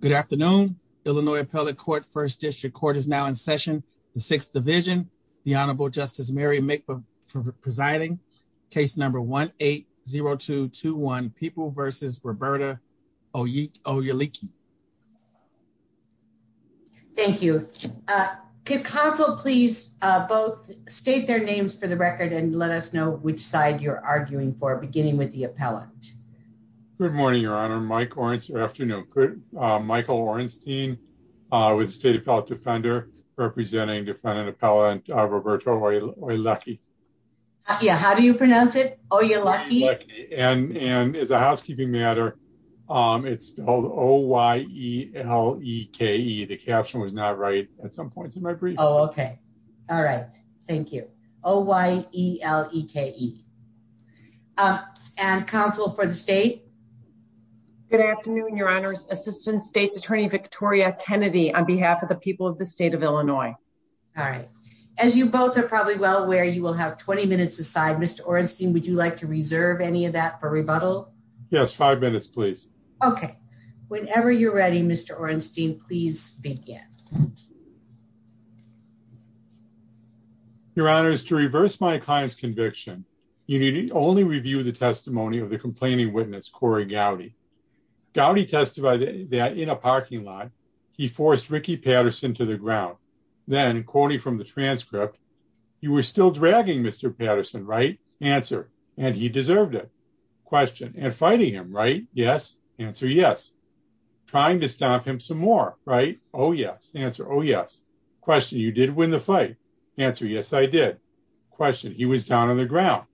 Good afternoon. Illinois Appellate Court First District Court is now in session the Sixth Division. The Honorable Justice Mary McPherson presiding. Case number 1-8-0-2-2-1 People vs. Roberta Oyeleki. Thank you. Could counsel please both state their names for the record and let us know which side you're arguing for beginning with the appellant. Good morning, Your Honor. Michael Orenstein with the State Appellate Defender representing defendant appellant Roberta Oyeleki. Yeah, how do you pronounce it? Oyeleki? And as a housekeeping matter, it's spelled O-Y-E-L-E-K-E. The caption was not right at some points in my brief. Oh, okay. All right. Thank you. O-Y-E-L-E-K-E. And counsel for the state. Good afternoon, Your Honor. Assistant State's Attorney Victoria Kennedy on behalf of the people of the state of Illinois. All right. As you both are probably well aware, you will have 20 minutes aside. Mr. Orenstein, would you like to reserve any of that for rebuttal? Yes. Five minutes, please. Okay. Whenever you're ready, Mr. Orenstein, please begin. Your Honor, to reverse my client's conviction, you need only review the testimony of the Corey Gowdy. Gowdy testified that in a parking lot, he forced Ricky Patterson to the ground. Then, quoting from the transcript, you were still dragging Mr. Patterson, right? Answer, and he deserved it. Question, and fighting him, right? Yes. Answer, yes. Trying to stop him some more, right? Oh, yes. Answer, oh, yes. Question, you did win the fight. Answer, yes, I did. Question, he was down on the ground.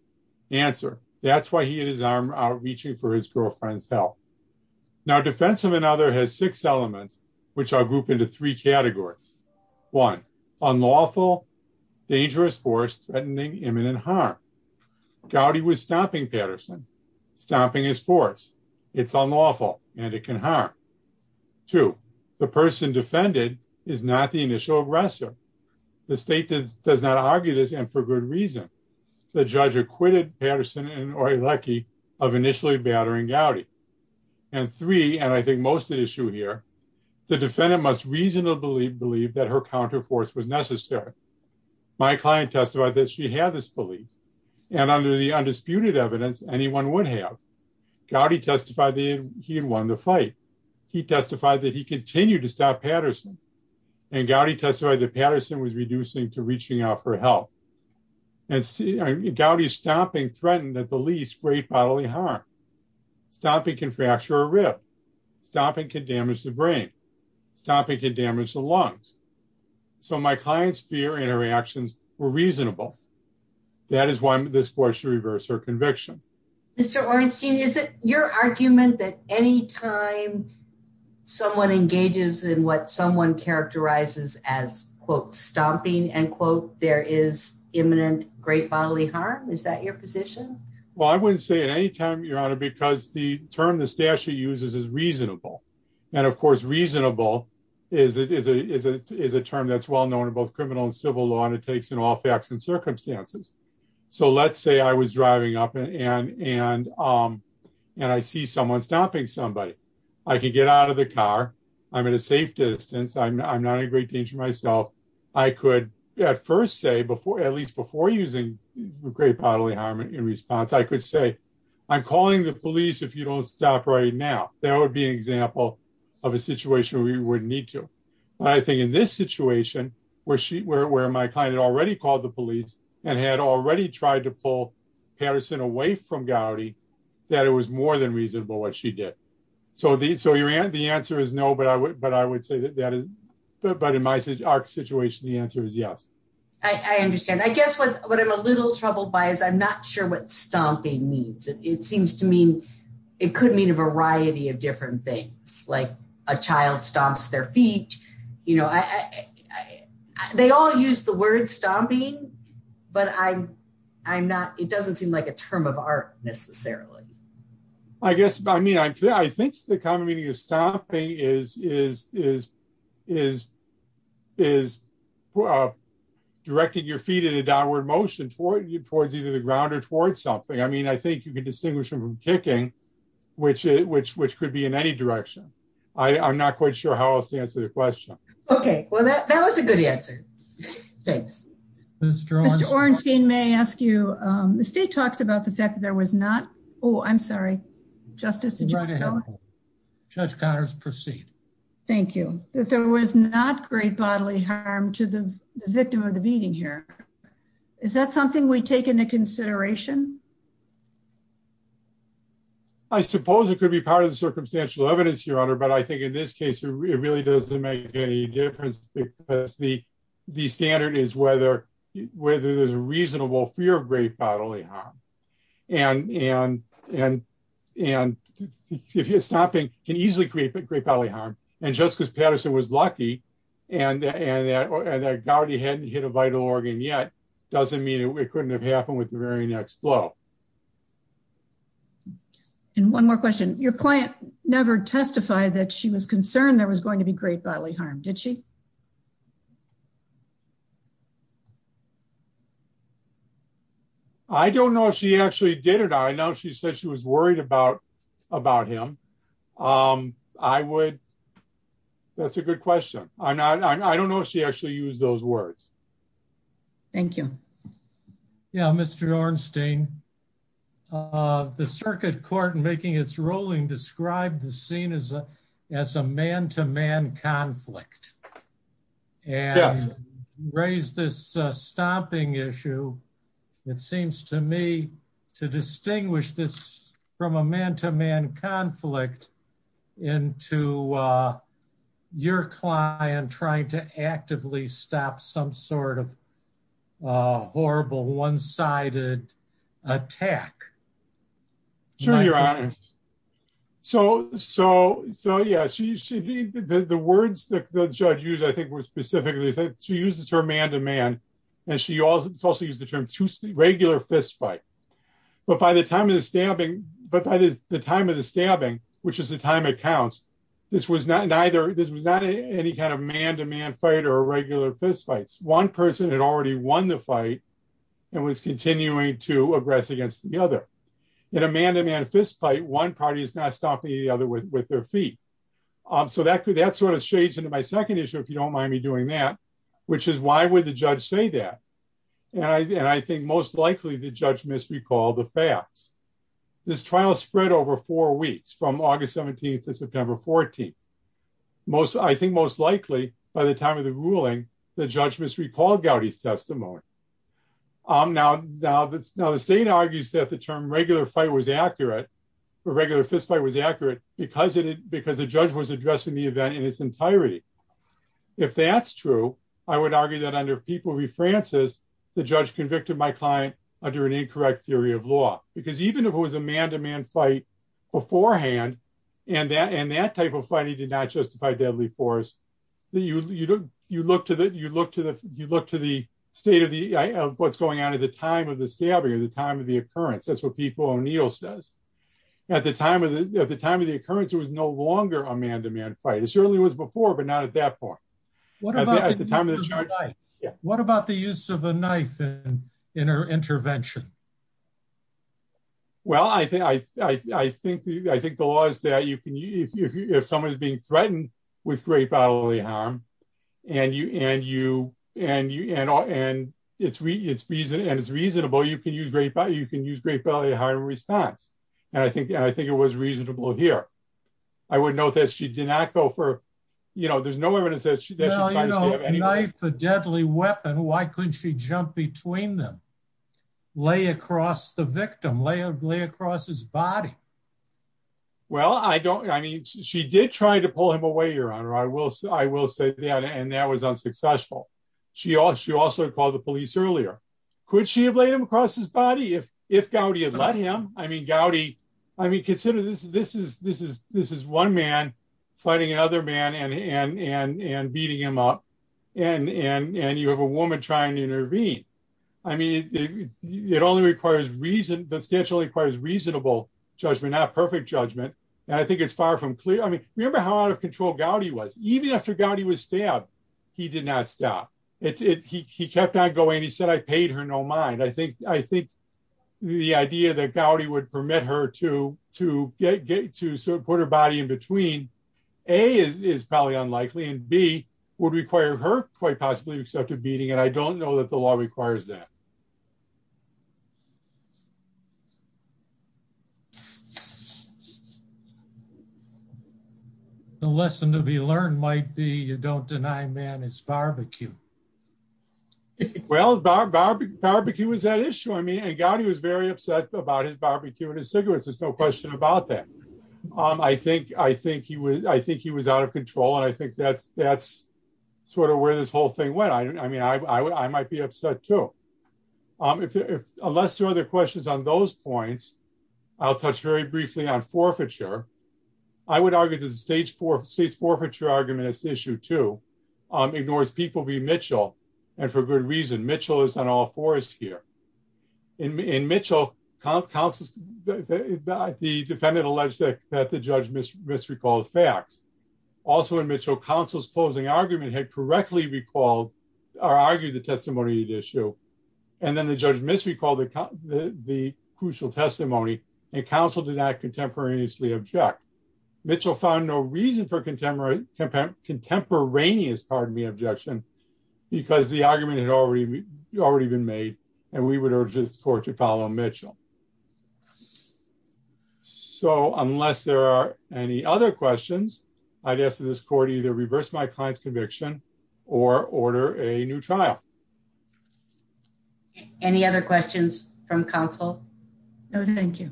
Answer, that's why he had his arm out reaching for his girlfriend's help. Now, defense of another has six elements, which I'll group into three categories. One, unlawful, dangerous force threatening imminent harm. Gowdy was stomping Patterson, stomping his force. It's unlawful, and it can harm. Two, the person defended is not the initial aggressor. The state does not argue this, and for good reason. The judge acquitted Patterson and Oylecki of initially battering Gowdy. And three, and I think most at issue here, the defendant must reasonably believe that her counterforce was necessary. My client testified that she had this belief, and under the undisputed evidence, anyone would have. Gowdy testified that he had won the fight. He testified that he continued to stop Patterson, and Gowdy testified that Patterson was reducing to reaching out for help. And see, Gowdy's stomping threatened, at the least, great bodily harm. Stomping can fracture a rib. Stomping can damage the brain. Stomping can damage the lungs. So, my client's fear and her reactions were reasonable. That is why this court should reverse her conviction. Mr. Orenstein, is it your argument that any time someone engages in what someone characterizes as, quote, stomping, end quote, there is imminent great bodily harm? Is that your position? Well, I wouldn't say at any time, Your Honor, because the term the statute uses is reasonable. And, of course, reasonable is a term that's well known in both criminal and civil law, in all facts and circumstances. So, let's say I was driving up, and I see someone stomping somebody. I can get out of the car. I'm at a safe distance. I'm not in great danger myself. I could, at first say, at least before using great bodily harm in response, I could say, I'm calling the police if you don't stop right now. That would be an example of a situation where you wouldn't need to. I think in this situation, where my client had already called the police and had already tried to pull Patterson away from Gowdy, that it was more than reasonable what she did. So, the answer is no, but I would say that in my situation, the answer is yes. I understand. I guess what I'm a little troubled by is I'm not sure what stomping means. It seems it could mean a variety of different things, like a child stomps their feet. They all use the word stomping, but it doesn't seem like a term of art, necessarily. I think the common meaning of stomping is directing your feet in a downward motion towards either the ground or towards something. I mean, I think you can distinguish them from kicking, which could be in any direction. I'm not quite sure how else to answer the question. Okay. Well, that was a good answer. Thanks. Mr. Ornstein, may I ask you, the state talks about the fact that there was not, oh, I'm sorry, Justice, did you want to go ahead? Judge Connors, proceed. Thank you. That there was not great bodily harm to the victim of the beating here. Is that something we take into consideration? I suppose it could be part of the circumstantial evidence, Your Honor, but I think in this case, it really doesn't make any difference because the standard is whether there's a reasonable fear of great bodily harm. And if you're stomping, it can easily create great bodily harm. And just because Patterson was lucky and that Gowdy hadn't hit a vital organ yet, doesn't mean it couldn't have happened with the very next blow. And one more question. Your client never testified that she was concerned there was going to be great bodily harm, did she? I don't know if she actually did it. I know she said she was worried about him. That's a good question. I don't know if she actually used those words. Thank you. Yeah, Mr. Ornstein, the circuit court in making its ruling described the scene as a as a man to man conflict and raised this stomping issue. It seems to me to distinguish this from a man to man conflict into your client trying to actively stop some sort of horrible one sided attack. Sure, Your Honor. So yeah, the words that the judge used, I think, were specifically that she uses her man to man. And she also used the term to regular fist fight. But by the time of the stabbing, which is the time it counts, this was not any kind of man to man fight or regular fist fights. One person had already won the fight and was continuing to aggress against the other. In a man to man fist fight, one party is not stomping the other with their feet. So that sort of shades into my second issue, if you don't mind me doing that, which is why would the judge say that? And I think most likely the judge misrecalled the facts. This trial spread over four weeks from August 17 to September 14. Most I think most likely, by the time of the ruling, the judge was recalled Gowdy's testimony. I'm now now that's now the state argues that the term regular fight was accurate, for regular fist fight was accurate, because it because the judge was addressing the event in its entirety. If that's true, I would argue that under people we Francis, the judge convicted my client under an incorrect theory of law, because even if it was a man to man fight beforehand, and that and that type of fighting did not justify deadly force. You look to the you look to the you look to the state of the what's going on at the time of the stabbing or the time of the occurrence. That's what people O'Neill says. At the time of the time of the occurrence, it was no longer a man to man fight. Certainly was before but not at that point. What about the use of a knife and intervention? Well, I think I think I think the law is that you can you if someone is being threatened with great bodily harm, and you and you and you and all and it's we it's reason and it's reasonable you can use great but you can use great bodily harm response. And I think I think it was reasonable here. I would know that she did not go for, you know, there's no evidence that she deadly weapon, why couldn't she jump between them? lay across the victim lay lay across his body? Well, I don't I mean, she did try to pull him away your honor, I will say I will say that and that was unsuccessful. She also she also called the police earlier. Could she have laid him across his body if if Gowdy had let him? I mean, Gowdy, I mean, consider this, this is this is this is one man fighting another man and and and beating him up. And and and you have a woman trying to intervene. I mean, it only requires reason substantially requires reasonable judgment, not perfect judgment. And I think it's far from clear. I mean, remember how out of control Gowdy was even after Gowdy was stabbed. He did not stop it. He kept on going. He said I paid her no mind. I think the idea that Gowdy would permit her to to get to support her body in between a is probably unlikely and B would require her quite possibly accepted beating and I don't know that the law requires that. The lesson to be learned might be you don't deny man is barbecue. Well, barbecue is that issue? I mean, and Gowdy was very upset about his barbecue and his cigarettes. There's no question about that. I think I think he was I think he was out of control. And I think that's that's sort of where this whole thing went. I mean, I would I might be upset, too, if unless there are other questions on those points. I'll touch very briefly on forfeiture. I would argue that the stage for state's forfeiture argument is the issue to ignores people be Mitchell. And for good reason, Mitchell is on all fours here. In Mitchell, the defendant alleged that the judge misrecalled facts. Also in Mitchell, counsel's closing argument had correctly recalled or argued the testimony issue. And then the judge misrecalled the crucial testimony and counsel did not contemporaneously object. Mitchell found no reason for contemporary contemporaneous pardon me objection, because the argument had already already been made. And we would urge this court to follow Mitchell. So unless there are any other questions, I guess this court either reverse my client's conviction or order a new trial. Any other questions from counsel? No, thank you.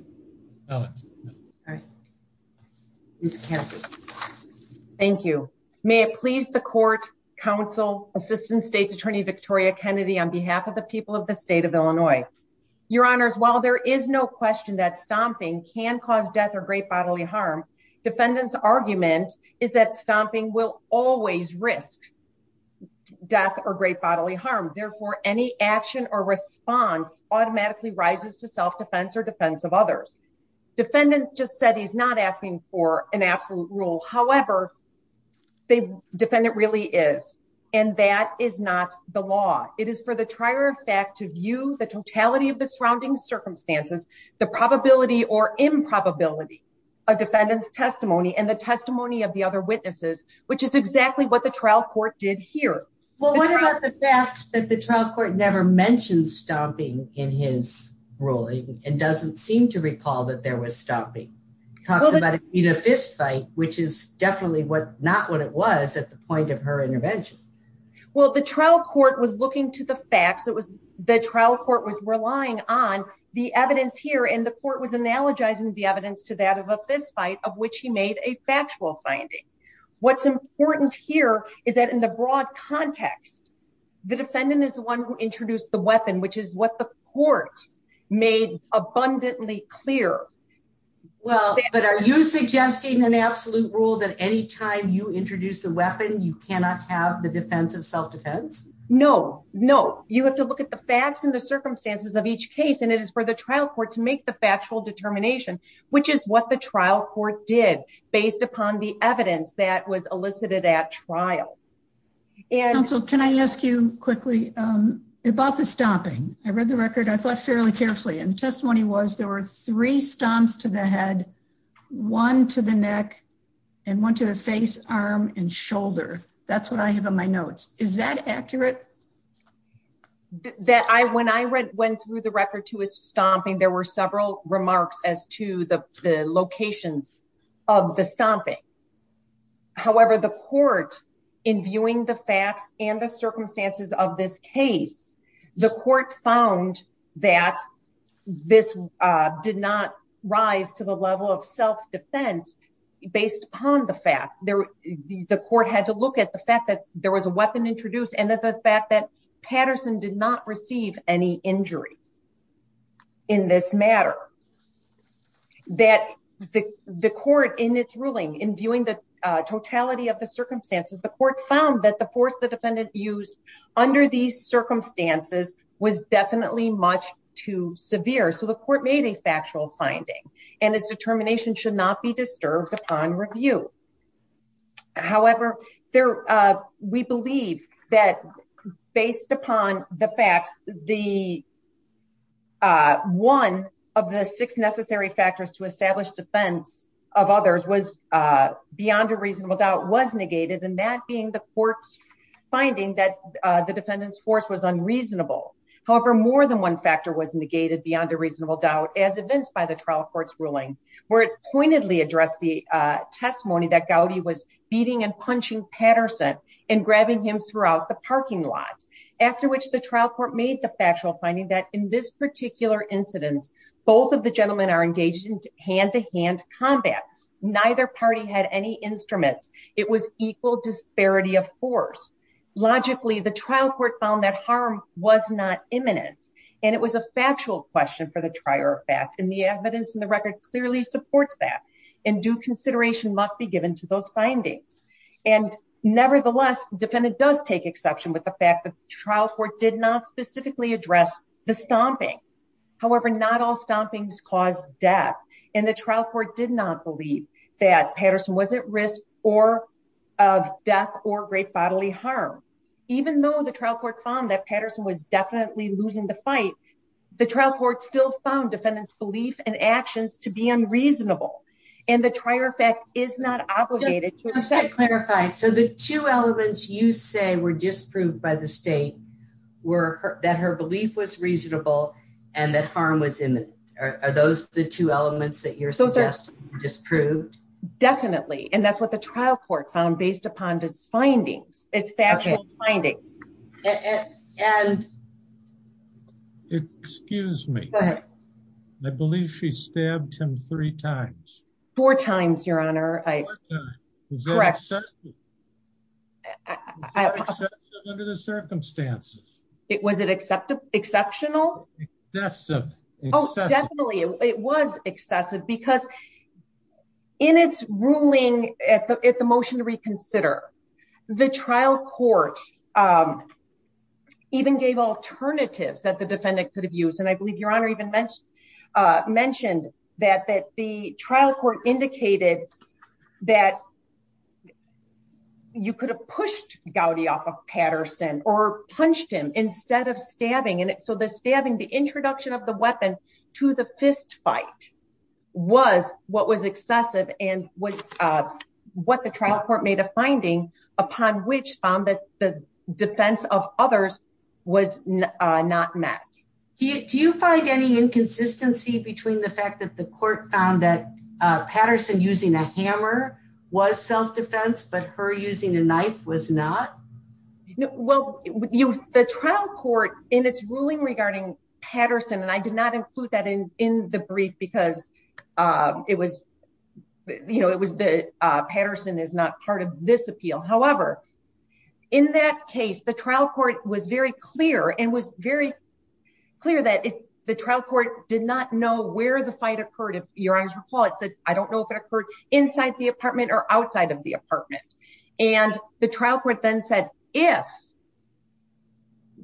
Alex. All right. Thank you. May it please the court, counsel, Assistant State's Attorney Victoria Kennedy, on behalf of the people of the state of Illinois. Your honors, while there is no question that stomping can cause death or great bodily harm. Defendants argument is that stomping will always risk death or great bodily harm. Therefore, any action or response automatically rises to self defense or defense of others. Defendant just said he's not asking for an absolute rule. However, the defendant really is. And that is not the law. It is for the trier of fact to view the totality of the surrounding circumstances, the probability or improbability of defendant's testimony and the testimony of the other witnesses, which is exactly what the trial court did here. Well, what about the fact that the trial court never mentioned stomping in his ruling and doesn't seem to recall that there was stopping talks about a fistfight, which is definitely what not what it was at the point of her intervention? Well, the trial court was looking to the facts. It was the trial court was relying on the evidence here and the court was analogizing the evidence to that of a fistfight of which he made a factual finding. What's important here is that in the context, the defendant is the one who introduced the weapon, which is what the court made abundantly clear. Well, but are you suggesting an absolute rule that any time you introduce a weapon, you cannot have the defense of self defense? No, no. You have to look at the facts and the circumstances of each case. And it is for the trial court to make the factual determination, which is what the trial court did based upon the evidence that was elicited at trial. And so can I ask you quickly about the stomping? I read the record. I thought fairly carefully and testimony was there were three stomps to the head, one to the neck and one to the face, arm and shoulder. That's what I have on my notes. Is that accurate? That I when I went through the record to his stomping, there were several remarks as to the facts and the circumstances of this case. The court found that this did not rise to the level of self defense based upon the fact there the court had to look at the fact that there was a weapon introduced and that the fact that Patterson did not receive any injuries in this matter. That the court in its ruling, in viewing the totality of the circumstances, the court found that the force the defendant used under these circumstances was definitely much too severe. So the court made a factual finding and its determination should not be disturbed upon review. However, there we believe that based upon the facts, the. One of the six necessary factors to establish defense of others was beyond a reasonable doubt was negated and that being the court's finding that the defendant's force was unreasonable. However, more than one factor was negated beyond a reasonable doubt as evinced by the trial court's ruling, where it pointedly addressed the testimony that Gowdy was beating and punching Patterson and grabbing him throughout the parking lot, after which the trial court made the factual finding that in this particular incident, both of the gentlemen are engaged in hand to hand combat. Neither party had any instruments. It was equal disparity of force. Logically, the trial court found that harm was not imminent and it was a factual question for the trier of fact and the evidence in the record clearly supports that and due consideration must be given to those findings. And nevertheless, defendant does take exception with the fact that the trial court did not specifically address the stomping. However, not all stompings cause death and the trial court did not believe that Patterson was at risk or of death or great bodily harm. Even though the trial court found that Patterson was definitely losing the fight, the trial court still found defendant's belief and actions to be unreasonable and the trier effect is not obligated to clarify. So the two elements you say were disproved by the state were that her belief was reasonable and that harm was imminent. Are those the two elements that you're suggesting were disproved? Definitely. And that's what the trial court found based upon its findings, its factual findings. Excuse me. I believe she stabbed him three times. Four times, your honor. Was that excessive under the circumstances? Was it exceptional? Excessive. Oh, definitely. It was excessive because in its ruling at the motion to reconsider, the trial court even gave alternatives that the defendant could have used. And I believe your honor even mentioned that the trial court indicated that you could have pushed Gowdy off of Patterson or punched him instead of stabbing. And so the stabbing, the introduction of the weapon to the fist fight was what was excessive and was what the trial court made a finding upon which found that the defense of others was not met. Do you find any inconsistency between the fact that the court found that Patterson using a hammer was self-defense but her using a knife was not? Well, the trial court in its ruling regarding Patterson, and I did not include that in the brief because Patterson is not part of this appeal. However, in that case, the trial court was very clear and was very clear that the trial court did not know where the fight occurred if your honor's report said, I don't know if it occurred inside the apartment or outside of the apartment. And the trial court then said, if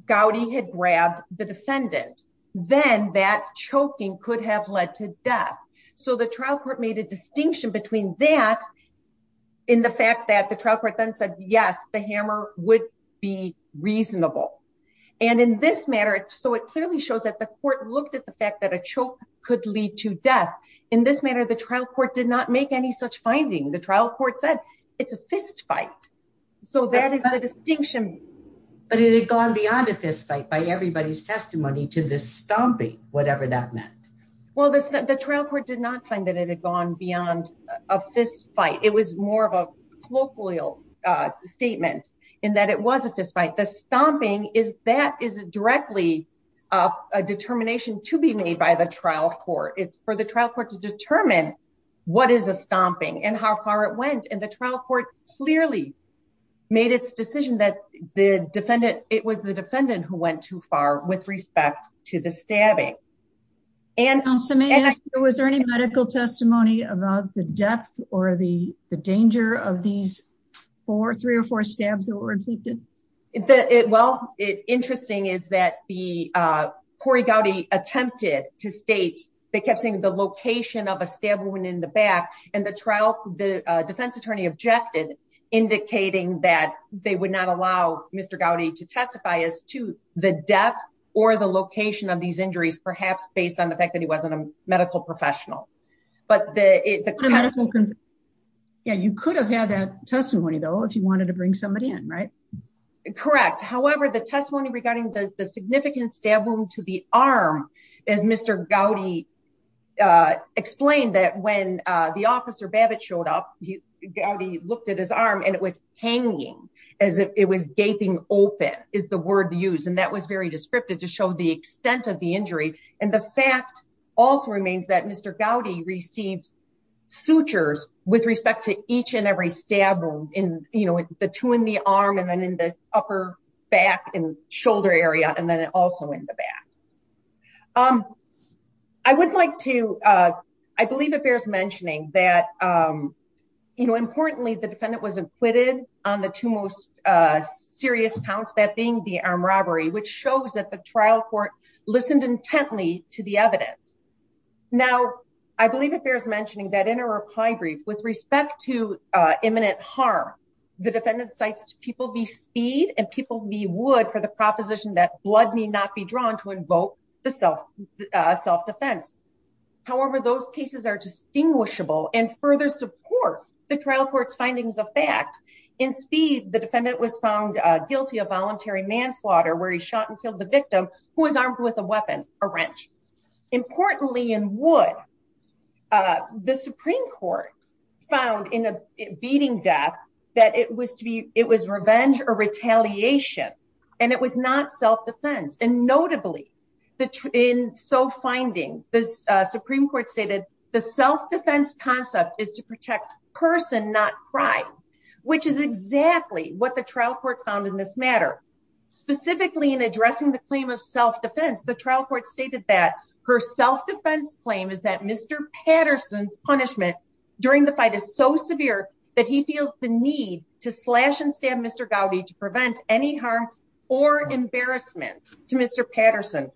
Gowdy had grabbed the defendant, then that choking could have led to death. So the trial court made a distinction between that in the fact that the trial court then said, yes, the hammer would be reasonable. And in this manner, so it clearly shows that the court looked at the fact that a choke could lead to death. In this manner, the trial court did not make any such finding. The trial court said it's a fist fight. So that is the distinction. But it had gone beyond a fist fight by everybody's testimony to the stomping, whatever that meant. Well, the trial court did not find that it had gone beyond a fist fight. It was more of a colloquial statement in that it was a fist fight. The stomping is that is directly a determination to be made by the trial court. It's for the trial to determine what is a stomping and how far it went. And the trial court clearly made its decision that the defendant, it was the defendant who went too far with respect to the stabbing. And was there any medical testimony about the depth or the danger of these four, three or four stabs that were completed? Well, it interesting is that the Corey Gowdy attempted to state, they kept saying the location of a stab wound in the back, and the trial, the defense attorney objected, indicating that they would not allow Mr. Gowdy to testify as to the depth or the location of these injuries, perhaps based on the fact that he wasn't a medical professional. But the- Yeah, you could have had that testimony though, if you wanted to bring somebody in, right? Correct. However, the testimony regarding the significant stab wound to the arm, as Mr. Gowdy explained that when the officer Babbitt showed up, Gowdy looked at his arm and it was hanging as if it was gaping open is the word used. And that was very descriptive to show the extent of the injury. And the fact also remains that Mr. Gowdy received sutures with respect to each and every stab wound in the two in the arm, and then in the upper back and shoulder area, and then also in the back. I would like to, I believe it bears mentioning that, importantly, the defendant was acquitted on the two most serious counts, that being the armed robbery, which shows that the trial court listened intently to the evidence. Now, I believe it bears mentioning that in a reply brief with respect to imminent harm, the defendant cites people v. Speed and people v. Wood for the proposition that blood need not be drawn to invoke the self-defense. However, those cases are distinguishable and further support the trial court's findings of fact. In Speed, the defendant was found guilty of voluntary manslaughter where he shot and killed the victim who was armed with a wrench. Importantly, in Wood, the Supreme Court found in a beating death that it was revenge or retaliation, and it was not self-defense. And notably, in so finding, the Supreme Court stated, the self-defense concept is to protect person, not crime, which is exactly what the trial court found in this matter. Specifically, in addressing the claim of self-defense, the trial court stated that her self-defense claim is that Mr. Patterson's punishment during the fight is so severe that he feels the need to slash and stab Mr. Gowdy to prevent any harm or embarrassment to Mr. Patterson.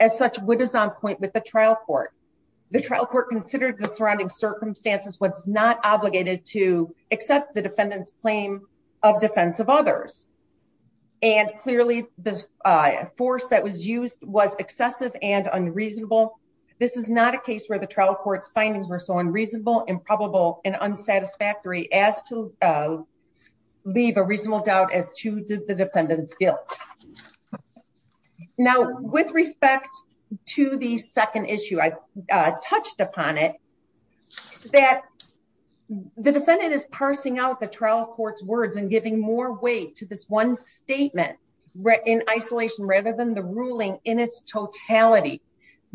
As such, Wood is on point with the trial court. The trial court considered the and clearly the force that was used was excessive and unreasonable. This is not a case where the trial court's findings were so unreasonable, improbable, and unsatisfactory as to leave a reasonable doubt as to the defendant's guilt. Now, with respect to the second issue, I touched upon it that the defendant is parsing out the trial court's words and giving more weight to this one statement in isolation rather than the ruling in its totality.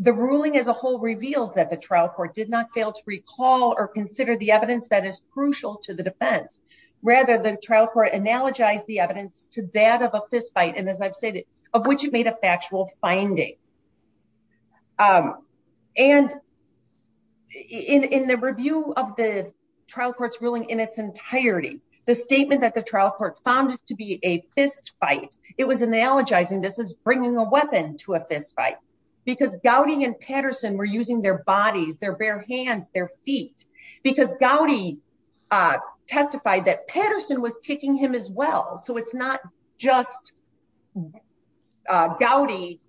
The ruling as a whole reveals that the trial court did not fail to recall or consider the evidence that is crucial to the defense. Rather, the trial court analogized the evidence to that of a fistfight, and as I've said, of which it made a factual finding. In the review of the trial court's ruling in its entirety, the statement that the trial court found it to be a fistfight, it was analogizing this as bringing a weapon to a fistfight because Gowdy and Patterson were using their bodies, their bare hands, their feet, because Gowdy testified that Patterson was kicking him as well. So, it's not just Gowdy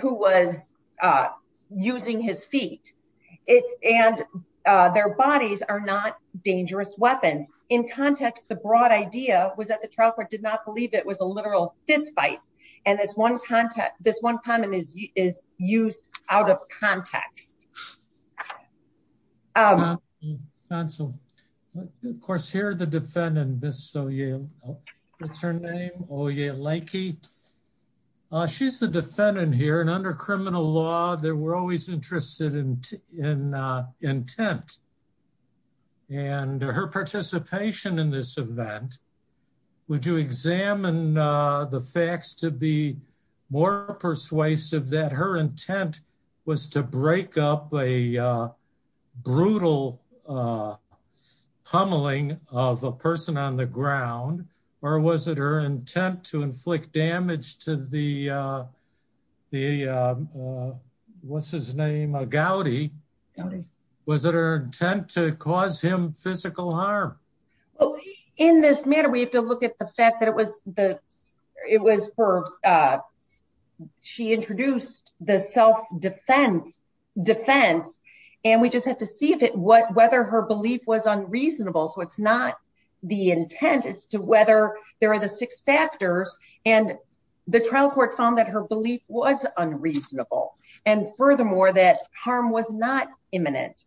who was using his feet, and their bodies are not dangerous weapons. In context, the broad idea was that the trial court did not believe it was a literal fistfight, and this one comment is used out of context. I'll answer. Of course, here the defendant, Ms. Oyeleke. What's her name? Oyeleke. She's the defendant here, and under criminal law, they were always interested in intent, and her participation in this event. Would you examine the facts to be more persuasive that her a brutal pummeling of a person on the ground, or was it her intent to inflict damage to the, what's his name, Gowdy? Gowdy. Was it her intent to cause him physical harm? Well, in this matter, we have to look at the fact that it was for, she introduced the self-defense and we just have to see whether her belief was unreasonable. So, it's not the intent, it's to whether there are the six factors, and the trial court found that her belief was unreasonable, and furthermore, that harm was not imminent.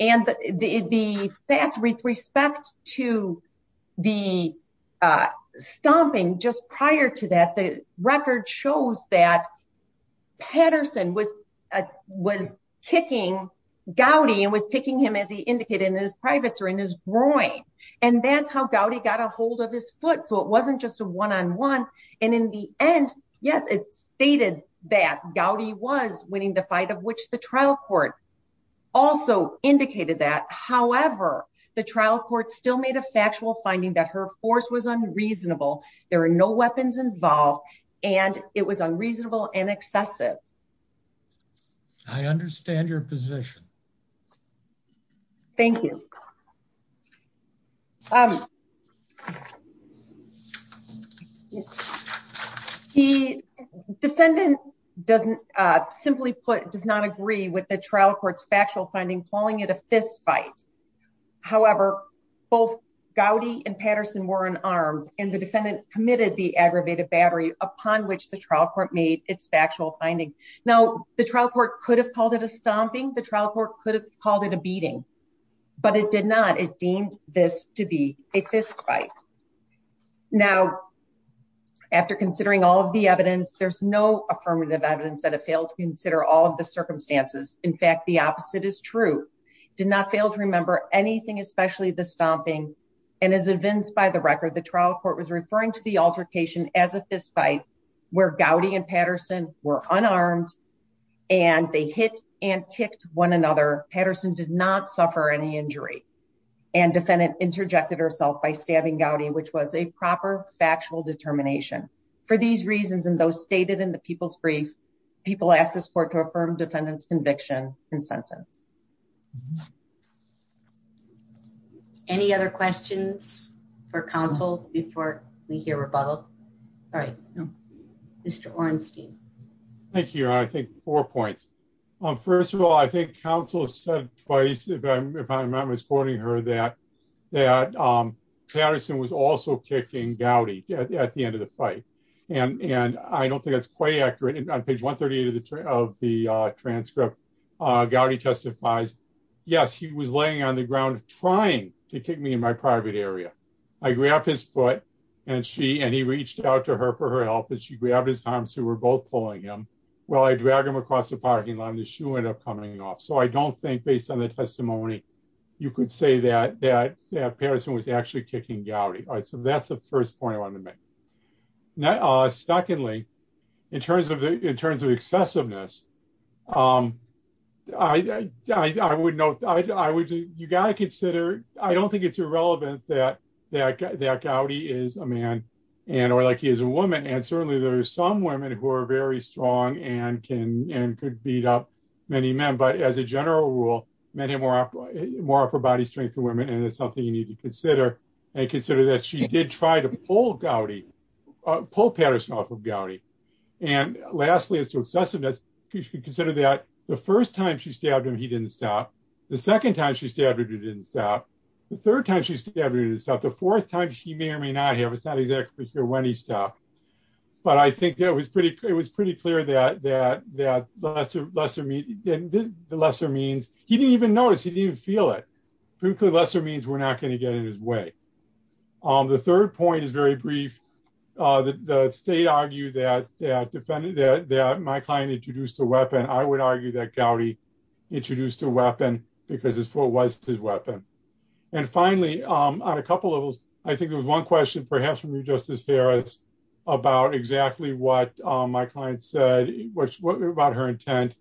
And the fact with respect to the stomping, just prior to that, the record shows that Patterson was kicking Gowdy and was kicking him as he indicated in his privates or in his groin, and that's how Gowdy got a hold of his foot. So, it wasn't just a one-on-one, and in the end, yes, it stated that Gowdy was winning the fight of which the trial court also indicated that. However, the trial court still made a factual finding that her force was unreasonable, there were no weapons involved, and it was unreasonable and excessive. I understand your position. Thank you. He, defendant doesn't, simply put, does not agree with the trial court's factual finding calling it a fist fight. However, both Gowdy and Patterson were unarmed, and the defendant committed the aggravated battery upon which the trial court made its factual finding. Now, the trial court could have called it a stomping, the trial court could have called it a beating, but it did not. It deemed this to be a fist fight. Now, after considering all of the evidence, there's no affirmative evidence that it failed to consider all of the circumstances. In fact, the opposite is true. It did not fail to remember anything, especially the stomping, and as evinced by the record, the trial court was referring to the altercation as a fist fight, where Gowdy and Patterson were unarmed, and they hit and kicked one another. Patterson did not suffer any injury, and defendant interjected herself by stabbing Gowdy, which was a proper factual determination. For these reasons, and those stated in the people's brief, people ask this court to affirm defendant's conviction and sentence. Any other questions for counsel before we hear rebuttal? All right. Mr. Orenstein. Thank you. I think four points. First of all, I think counsel said twice, if I'm not misquoting her, that Patterson was also kicking Gowdy at the end of the fight, and I don't think that's quite accurate. On page 138 of the transcript, Gowdy testifies, yes, he was laying on the ground trying to kick me in my private area. I grabbed his foot, and he reached out to her for her help, and she grabbed his arm, so we're both pulling him. Well, I dragged him across the parking lot, and his shoe ended up coming off, so I don't think based on the testimony, you could say that Patterson was actually kicking Gowdy. All right, so that's the first point I wanted to make. Secondly, in terms of excessiveness, I would note, you got to consider, I don't think it's irrelevant that Gowdy is a man, and or like he is a woman, and certainly there are some women who are very strong and could beat up many men, but as a general rule, men have more upper body strength than women, and it's something you need to consider, and consider that she did try to pull Gowdy, pull Patterson off of Gowdy. And lastly, as to excessiveness, you should consider that the first time she stabbed him, he didn't stop. The second time she stabbed him, he didn't stop. The third time she stabbed him, he didn't stop. The fourth time, he may or may not have. It's not exactly sure when he stopped, but I think it was pretty clear that the lesser means, he didn't even notice, he didn't even feel it. The lesser means, we're not going to get in his way. The third point is very brief. The state argued that my client introduced a weapon. I would argue that Gowdy introduced a weapon because it was his weapon. And finally, on a couple levels, I think there was one question, perhaps from Justice Harris, about exactly what my client said, about her intent,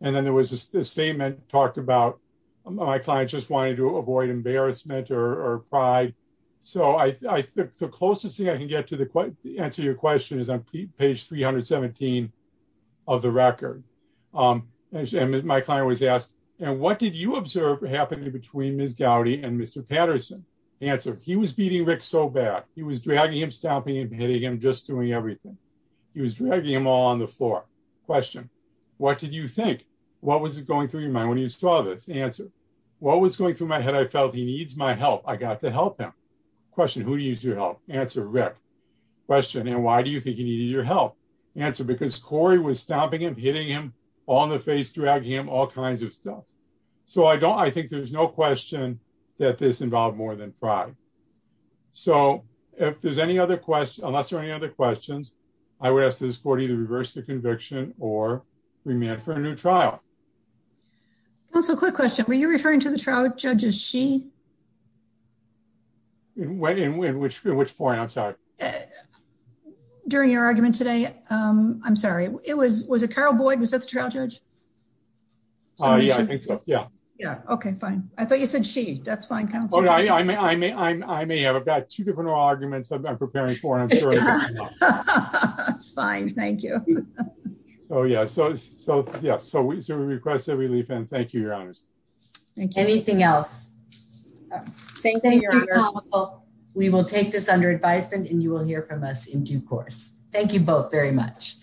and then there was a statement talked about, my client just wanted to avoid embarrassment or pride. So, the closest thing I can get to the answer to your question is on page 317 of the record. My client was asked, and what did you observe happening between Ms. Gowdy and Mr. Patterson? Answer, he was beating Rick so bad. He was dragging him, stomping him, hitting him, just doing everything. He was dragging him all on the floor. Question, what did you think? What was going through your mind when you saw this? Answer, what was going through my head? I felt he needs my help. I got to help him. Question, who needs your help? Answer, Rick. Question, and why do you think he needed your help? Answer, because Corey was stomping him, hitting him, all in the face, dragging him, all kinds of stuff. So, I think there's no question that this involved more than pride. So, if there's any other questions, unless there are any other questions, I would ask that this court either reverse the conviction or remand for a new trial. Counsel, quick question. Were you referring to the trial judge as she? In which point? I'm sorry. During your argument today. I'm sorry. Was it Carol Boyd? Was that the trial judge? Yeah, I think so. Yeah. Yeah. Okay, fine. I thought you said she. That's fine, counsel. I may have about two different arguments I'm preparing for. Fine, thank you. So, yeah. So, we request a relief, and thank you, your honors. Anything else? Thank you, counsel. We will take this under advisement, and you will hear from us in due course. Thank you both very much.